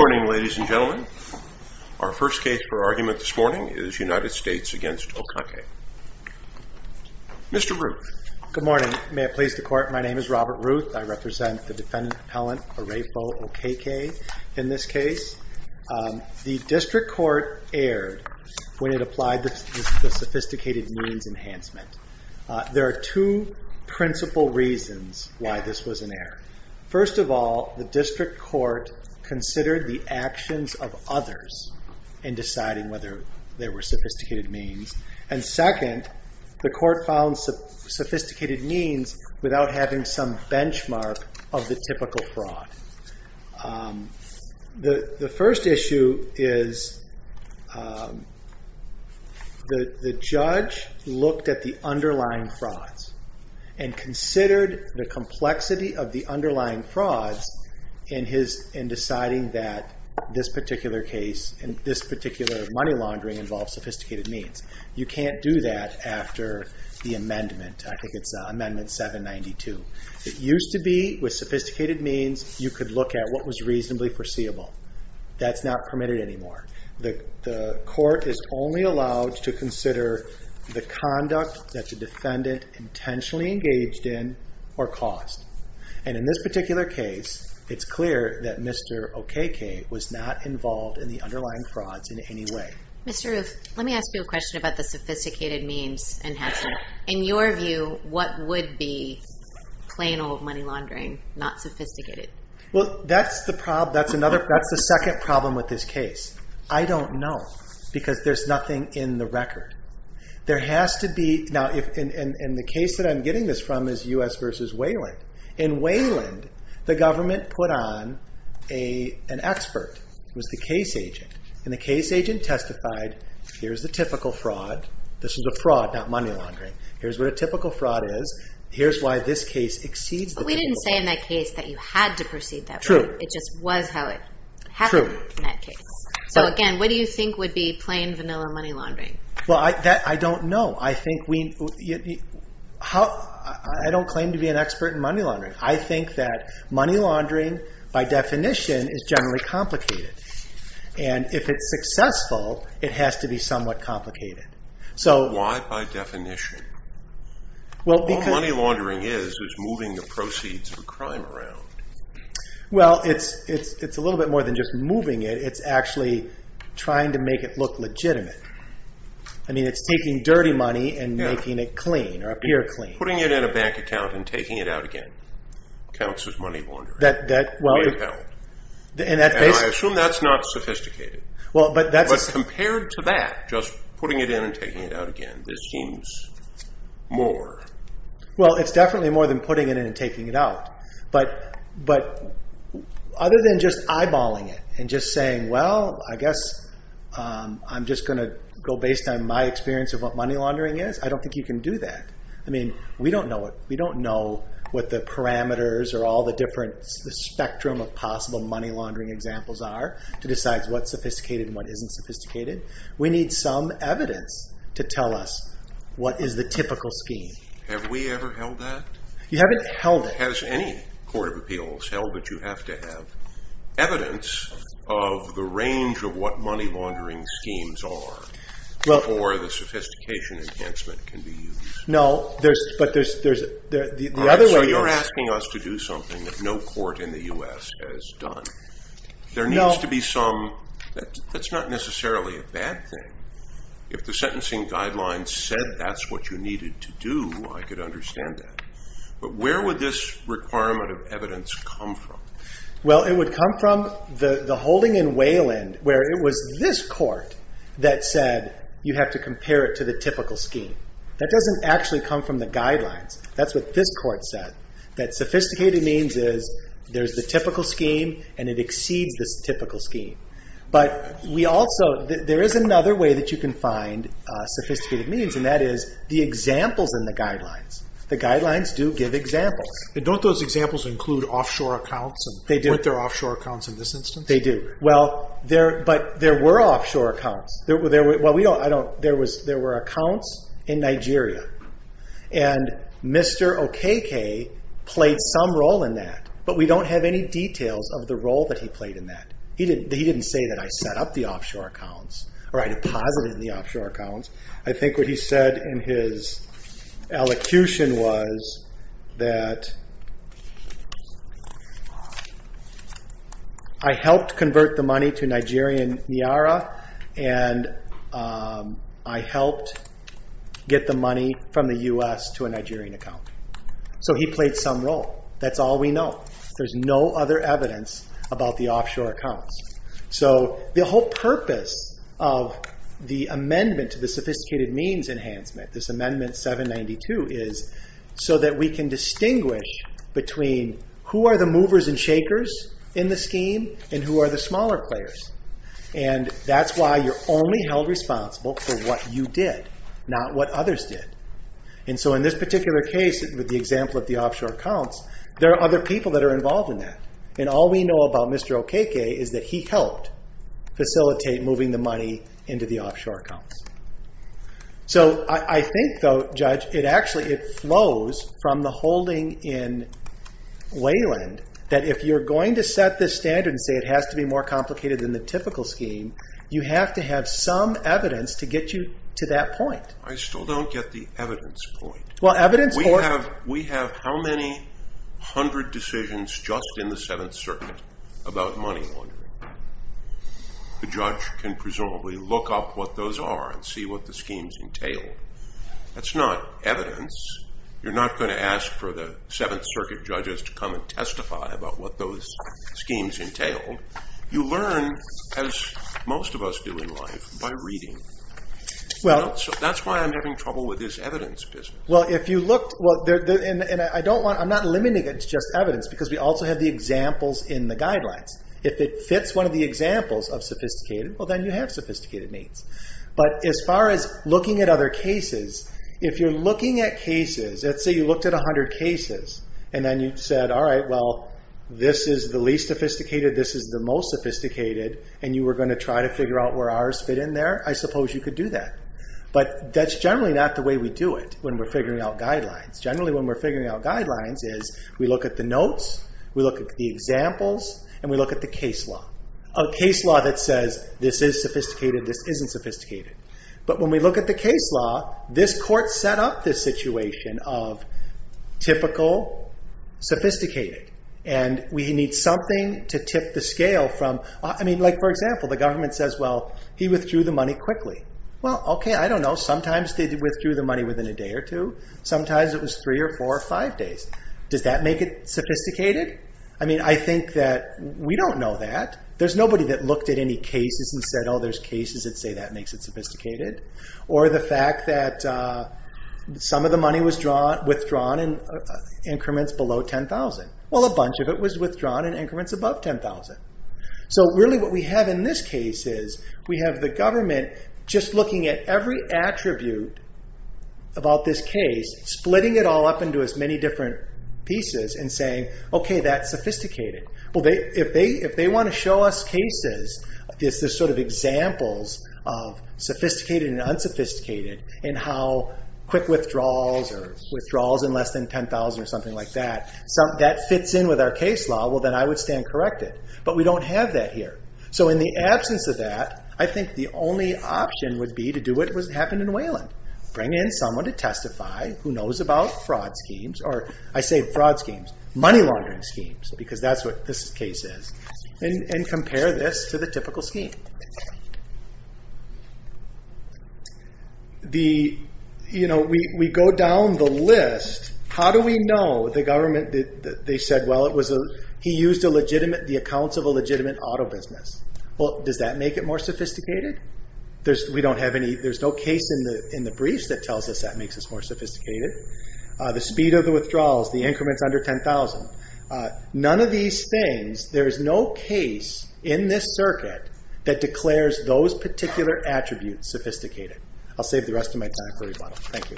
Good morning, ladies and gentlemen. Our first case for argument this morning is United States v. Okeke. Mr. Ruth. Good morning. May it please the Court, my name is Robert Ruth. I represent the defendant appellant Orefo Okeke in this case. The district court erred when it applied the sophisticated means enhancement. There are two principal reasons why this was an error. First of all, the district court considered the actions of others in deciding whether there were sophisticated means. And second, the court found sophisticated means without having some benchmark of the typical fraud. The first issue is the judge looked at the underlying frauds and considered the complexity of the underlying frauds in deciding that this particular case, in this particular money laundering involves sophisticated means. You can't do that after the amendment. I think it's amendment 792. It used to be with sophisticated means you could look at what was reasonably foreseeable. That's not permitted anymore. The court is only allowed to consider the conduct that the defendant intentionally engaged in or caused. And in this particular case, it's clear that Mr. Okeke was not involved in the underlying frauds in any way. Mr. Ruth, let me ask you a question about the sophisticated means enhancement. In your view, what would be plain old money laundering, not sophisticated? That's the second problem with this case. I don't know because there's nothing in the record. In the case that I'm getting this from is U.S. v. Wayland. In Wayland, the government put on an expert. It was the case agent. And the case agent testified, here's the typical fraud. This is a fraud, not money laundering. Here's what a typical fraud is. Here's why this case exceeds the typical fraud. But we didn't say in that case that you had to proceed that way. It just was how it happened in that case. So again, what do you think would be plain vanilla money laundering? I don't know. I don't claim to be an expert in money laundering. I think that money laundering, by definition, is generally complicated. And if it's successful, it has to be somewhat complicated. Why by definition? All money laundering is is moving the proceeds of a crime around. Well, it's a little bit more than just moving it. It's actually trying to make it look legitimate. I mean, it's taking dirty money and making it clean or appear clean. Putting it in a bank account and taking it out again counts as money laundering. And I assume that's not sophisticated. But compared to that, just putting it in and taking it out again, this seems more. Well, it's definitely more than putting it in and taking it out. But other than just eyeballing it and just saying, well, I guess I'm just going to go based on my experience of what money laundering is. I don't think you can do that. I mean, we don't know it. We don't know what the parameters or all the different spectrum of possible money laundering examples are to decide what's sophisticated and what isn't sophisticated. We need some evidence to tell us what is the typical scheme. Have we ever held that? You haven't held it. Has any court of appeals held that you have to have evidence of the range of what money laundering schemes are for the sophistication enhancement can be used? No, but there's the other way. You're asking us to do something that no court in the U.S. has done. There needs to be some. That's not necessarily a bad thing. If the sentencing guidelines said that's what you needed to do, I could understand that. But where would this requirement of evidence come from? Well, it would come from the holding in Wayland where it was this court that said you have to compare it to the typical scheme. That doesn't actually come from the guidelines. That's what this court said, that sophisticated means is there's the typical scheme and it exceeds the typical scheme. But we also, there is another way that you can find sophisticated means, and that is the examples in the guidelines. The guidelines do give examples. Don't those examples include offshore accounts? They do. Were there offshore accounts in this instance? They do. But there were offshore accounts. There were accounts in Nigeria, and Mr. Okeke played some role in that, but we don't have any details of the role that he played in that. He didn't say that I set up the offshore accounts or I deposited the offshore accounts. I think what he said in his elocution was that I helped convert the money to Nigerian nyara and I helped get the money from the U.S. to a Nigerian account. So he played some role. That's all we know. There's no other evidence about the offshore accounts. So the whole purpose of the amendment to the sophisticated means enhancement, this amendment 792, is so that we can distinguish between who are the movers and shakers in the scheme and who are the smaller players. And that's why you're only held responsible for what you did, not what others did. And so in this particular case, with the example of the offshore accounts, there are other people that are involved in that. And all we know about Mr. Okeke is that he helped facilitate moving the money into the offshore accounts. So I think, though, Judge, it actually flows from the holding in Wayland that if you're going to set this standard and say it has to be more complicated than the typical scheme, you have to have some evidence to get you to that point. I still don't get the evidence point. We have how many hundred decisions just in the Seventh Circuit about money laundering? The judge can presumably look up what those are and see what the schemes entail. That's not evidence. You're not going to ask for the Seventh Circuit judges to come and testify about what those schemes entail. You learn, as most of us do in life, by reading. That's why I'm having trouble with this evidence business. I'm not limiting it to just evidence, because we also have the examples in the guidelines. If it fits one of the examples of sophisticated, well, then you have sophisticated means. But as far as looking at other cases, if you're looking at cases, let's say you looked at 100 cases, and then you said, all right, well, this is the least sophisticated, this is the most sophisticated, and you were going to try to figure out where ours fit in there. I suppose you could do that, but that's generally not the way we do it when we're figuring out guidelines. Generally, when we're figuring out guidelines is we look at the notes, we look at the examples, and we look at the case law. A case law that says this is sophisticated, this isn't sophisticated. But when we look at the case law, this court set up this situation of typical, sophisticated, and we need something to tip the scale. For example, the government says, well, he withdrew the money quickly. Well, okay, I don't know. Sometimes they withdrew the money within a day or two. Sometimes it was three or four or five days. Does that make it sophisticated? I think that we don't know that. There's nobody that looked at any cases and said, oh, there's cases that say that makes it sophisticated. Or the fact that some of the money was withdrawn in increments below 10,000. Well, a bunch of it was withdrawn in increments above 10,000. So really what we have in this case is we have the government just looking at every attribute about this case, splitting it all up into as many different pieces and saying, okay, that's sophisticated. Well, if they want to show us cases, this is sort of examples of sophisticated and unsophisticated, and how quick withdrawals or withdrawals in less than 10,000 or something like that, that fits in with our case law, well, then I would stand corrected. But we don't have that here. So in the absence of that, I think the only option would be to do what happened in Wayland. Bring in someone to testify who knows about fraud schemes, or I say fraud schemes, money laundering schemes, because that's what this case is, and compare this to the typical scheme. We go down the list. How do we know the government, they said, well, he used the accounts of a legitimate auto business. Well, does that make it more sophisticated? There's no case in the briefs that tells us that makes us more sophisticated. The speed of the withdrawals, the increments under 10,000. None of these things, there is no case in this circuit that declares those particular attributes sophisticated. I'll save the rest of my time for rebuttal. Thank you.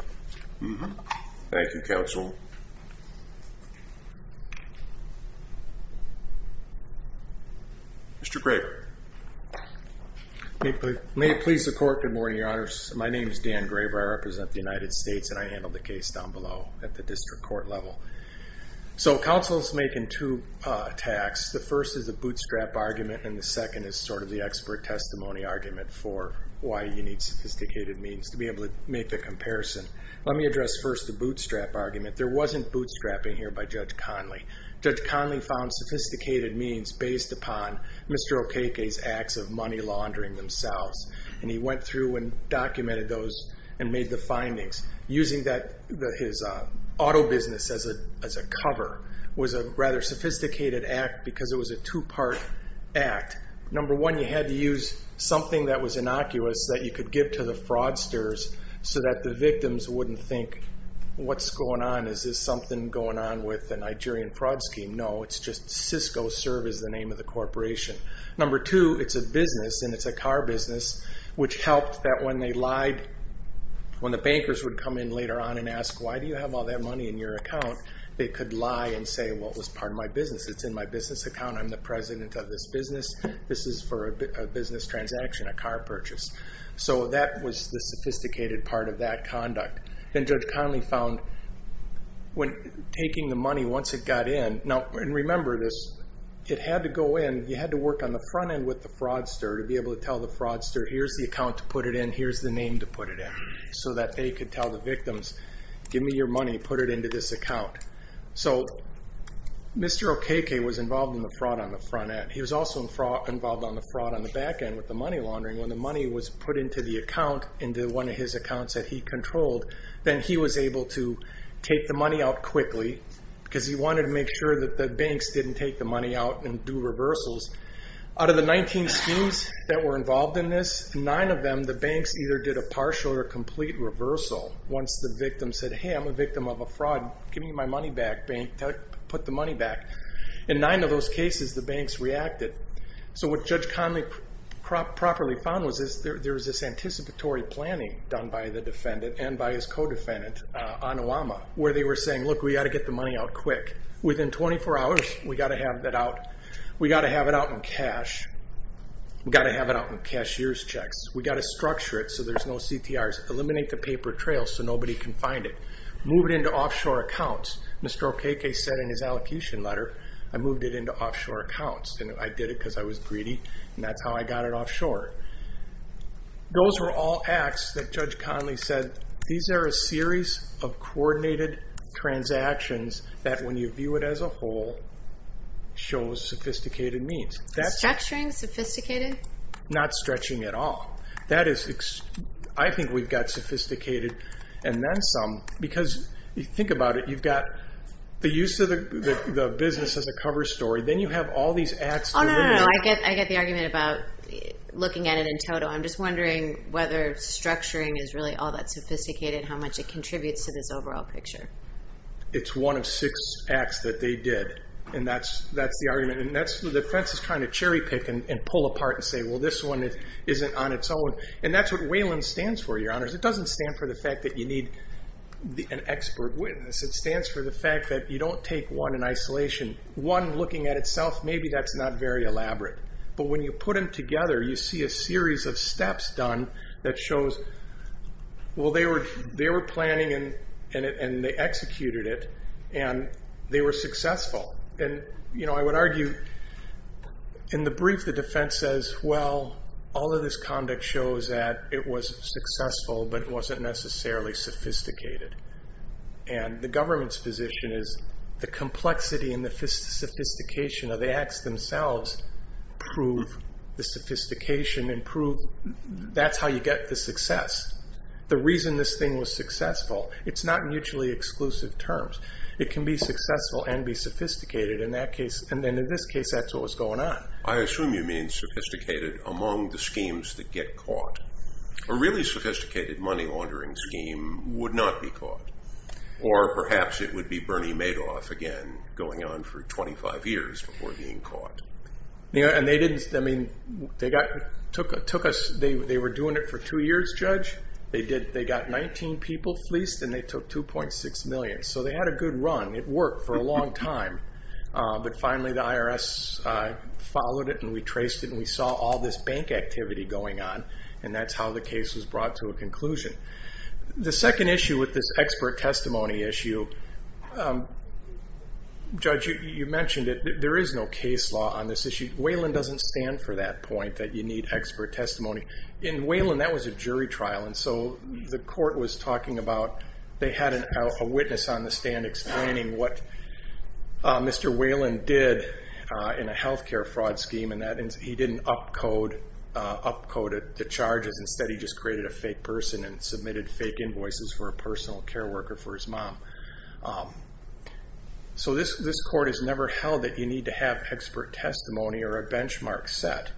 Thank you, Counsel. Mr. Graver. May it please the Court, good morning, Your Honors. My name is Dan Graver. I represent the United States, and I handle the case down below at the district court level. So counsel's making two attacks. The first is a bootstrap argument, and the second is sort of the expert testimony argument for why you need sophisticated means to be able to make the comparison. Let me address first the bootstrap argument. There wasn't bootstrapping here by Judge Conley. Judge Conley found sophisticated means based upon Mr. Okeke's acts of money laundering themselves, and he went through and documented those and made the findings. Using his auto business as a cover was a rather sophisticated act because it was a two-part act. Number one, you had to use something that was innocuous that you could give to the fraudsters so that the victims wouldn't think, what's going on? Is this something going on with the Nigerian fraud scheme? No, it's just Cisco Service, the name of the corporation. Number two, it's a business, and it's a car business, which helped that when they lied, when the bankers would come in later on and ask, why do you have all that money in your account? They could lie and say, well, it was part of my business. It's in my business account. I'm the president of this business. This is for a business transaction, a car purchase. So that was the sophisticated part of that conduct. Then Judge Conley found when taking the money, once it got in, and remember this, it had to go in. You had to work on the front end with the fraudster to be able to tell the fraudster, here's the account to put it in, here's the name to put it in, so that they could tell the victims, give me your money, put it into this account. So Mr. Okeke was involved in the fraud on the front end. He was also involved on the fraud on the back end with the money laundering. When the money was put into the account, into one of his accounts that he controlled, then he was able to take the money out quickly because he wanted to make sure that the banks didn't take the money out and do reversals. Out of the 19 schemes that were involved in this, nine of them, the banks either did a partial or a complete reversal once the victim said, hey, I'm a victim of a fraud. Give me my money back, bank. Put the money back. In nine of those cases, the banks reacted. So what Judge Conley properly found was there was this anticipatory planning done by the defendant and by his co-defendant, Onuwama, where they were saying, look, we've got to get the money out quick. Within 24 hours, we've got to have it out. We've got to have it out in cash. We've got to have it out in cashier's checks. We've got to structure it so there's no CTRs. Eliminate the paper trail so nobody can find it. Move it into offshore accounts. Mr. Okeke said in his allocation letter, I moved it into offshore accounts, and I did it because I was greedy, and that's how I got it offshore. Those were all acts that Judge Conley said, these are a series of coordinated transactions that, when you view it as a whole, shows sophisticated means. Structuring? Sophisticated? Not stretching at all. That is, I think we've got sophisticated and then some because, think about it, you've got the use of the business as a cover story. Then you have all these acts. Oh, no, no, no. I get the argument about looking at it in total. I'm just wondering whether structuring is really all that sophisticated, how much it contributes to this overall picture. It's one of six acts that they did, and that's the argument. The defense is trying to cherry pick and pull apart and say, well, this one isn't on its own. And that's what Wayland stands for, Your Honors. It doesn't stand for the fact that you need an expert witness. It stands for the fact that you don't take one in isolation. One looking at itself, maybe that's not very elaborate. But when you put them together, you see a series of steps done that shows, well, they were planning and they executed it, and they were successful. And, you know, I would argue in the brief the defense says, well, all of this conduct shows that it was successful but it wasn't necessarily sophisticated. And the government's position is the complexity and the sophistication of the acts themselves prove the sophistication and prove that's how you get the success. The reason this thing was successful, it's not mutually exclusive terms. It can be successful and be sophisticated, and in this case that's what was going on. I assume you mean sophisticated among the schemes that get caught. A really sophisticated money laundering scheme would not be caught. Or perhaps it would be Bernie Madoff again going on for 25 years before being caught. They were doing it for two years, Judge. They got 19 people fleeced and they took 2.6 million. So they had a good run. It worked for a long time. But finally the IRS followed it and we traced it and we saw all this bank activity going on, The second issue with this expert testimony issue, Judge, you mentioned it. There is no case law on this issue. Whalen doesn't stand for that point that you need expert testimony. In Whalen that was a jury trial, and so the court was talking about they had a witness on the stand explaining what Mr. Whalen did in a health care fraud scheme and that he didn't up-code the charges. Instead he just created a fake person and submitted fake invoices for a personal care worker for his mom. So this court has never held that you need to have expert testimony or a benchmark set.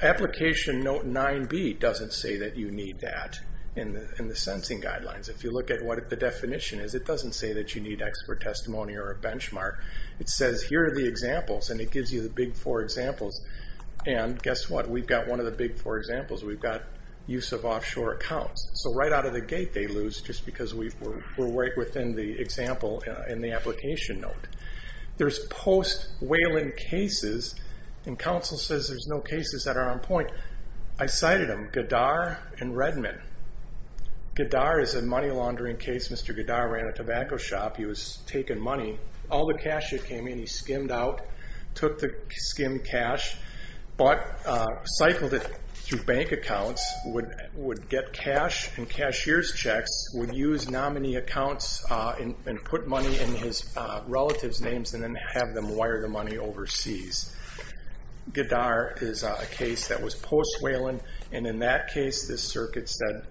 Application Note 9B doesn't say that you need that in the sensing guidelines. If you look at what the definition is, it doesn't say that you need expert testimony or a benchmark. It says here are the examples and it gives you the big four examples. And guess what? We've got one of the big four examples. We've got use of offshore accounts. So right out of the gate they lose just because we're right within the example in the application note. There's post-Whalen cases and counsel says there's no cases that are on point. I cited them, Gadar and Redman. Gadar is a money laundering case. Mr. Gadar ran a tobacco shop. He was taking money. All the cash that came in he skimmed out, took the skimmed cash, but cycled it through bank accounts, would get cash and cashier's checks, would use nominee accounts and put money in his relatives' names and then have them wire the money overseas. Gadar is a case that was post-Whalen, and in that case the circuit said,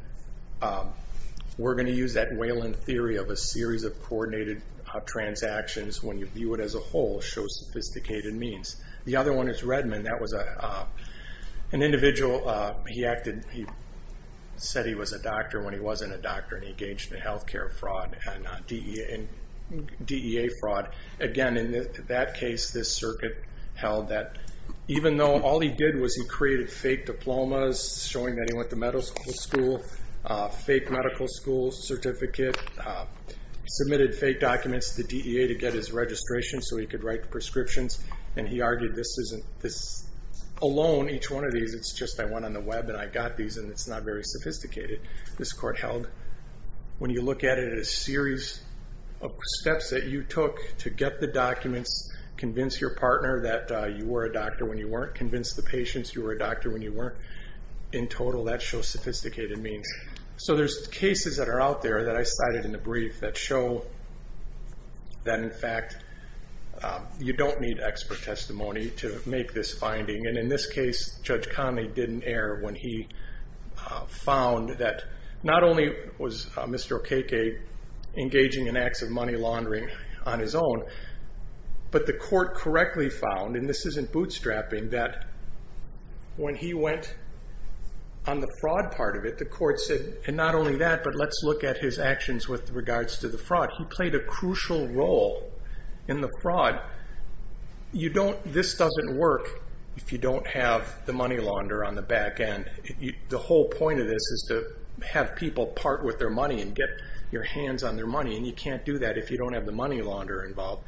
we're going to use that Whalen theory of a series of coordinated transactions when you view it as a whole, show sophisticated means. The other one is Redman. That was an individual, he said he was a doctor when he wasn't a doctor and he engaged in health care fraud and DEA fraud. Again, in that case this circuit held that even though all he did was he created fake diplomas, showing that he went to medical school, fake medical school certificate, submitted fake documents to DEA to get his registration so he could write prescriptions, and he argued this isn't alone, each one of these, it's just I went on the web and I got these and it's not very sophisticated. This court held when you look at it as a series of steps that you took to get the documents, convince your partner that you were a doctor when you weren't, convince the patients you were a doctor when you weren't, in total that shows sophisticated means. So there's cases that are out there that I cited in the brief that show that, in fact, you don't need expert testimony to make this finding, and in this case Judge Conley didn't err when he found that not only was Mr. Okeke engaging in acts of money laundering on his own, but the court correctly found, and this isn't bootstrapping, that when he went on the fraud part of it, the court said, and not only that, but let's look at his actions with regards to the fraud. He played a crucial role in the fraud. This doesn't work if you don't have the money launderer on the back end. The whole point of this is to have people part with their money and get your hands on their money, and you can't do that if you don't have the money launderer involved.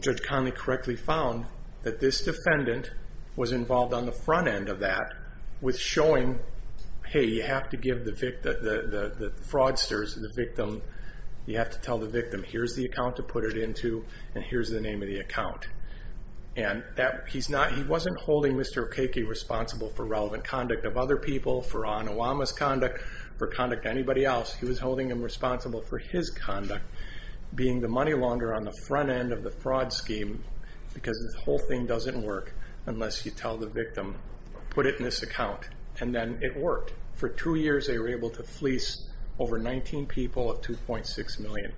Judge Conley correctly found that this defendant was involved on the front end of that with showing, hey, you have to give the fraudsters, the victim, you have to tell the victim, here's the account to put it into, and here's the name of the account. And he wasn't holding Mr. Okeke responsible for relevant conduct of other people, for Anuwama's conduct, for conduct of anybody else. He was holding him responsible for his conduct, being the money launderer on the front end of the fraud scheme, because this whole thing doesn't work unless you tell the victim, put it in this account. And then it worked. For two years they were able to fleece over 19 people of 2.6 million.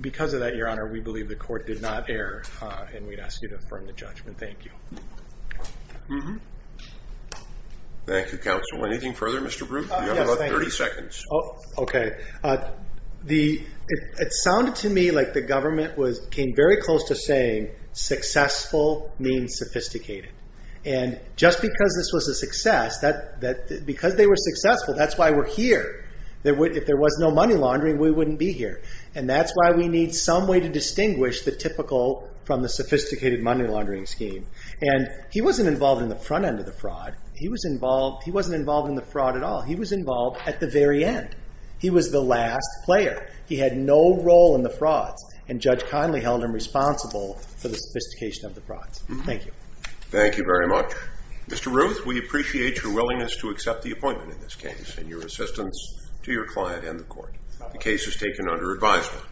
Because of that, Your Honor, we believe the court did not err, and we'd ask you to affirm the judgment. Thank you. Thank you, counsel. Anything further, Mr. Bruch? You have about 30 seconds. Okay. It sounded to me like the government came very close to saying, successful means sophisticated. And just because this was a success, because they were successful, that's why we're here. If there was no money laundering, we wouldn't be here. And that's why we need some way to distinguish the typical from the sophisticated money laundering scheme. And he wasn't involved in the front end of the fraud. He wasn't involved in the fraud at all. He was involved at the very end. He was the last player. He had no role in the fraud, and Judge Conley held him responsible for the sophistication of the fraud. Thank you. Thank you very much. Mr. Ruth, we appreciate your willingness to accept the appointment in this case and your assistance to your client and the court. The case is taken under advisement.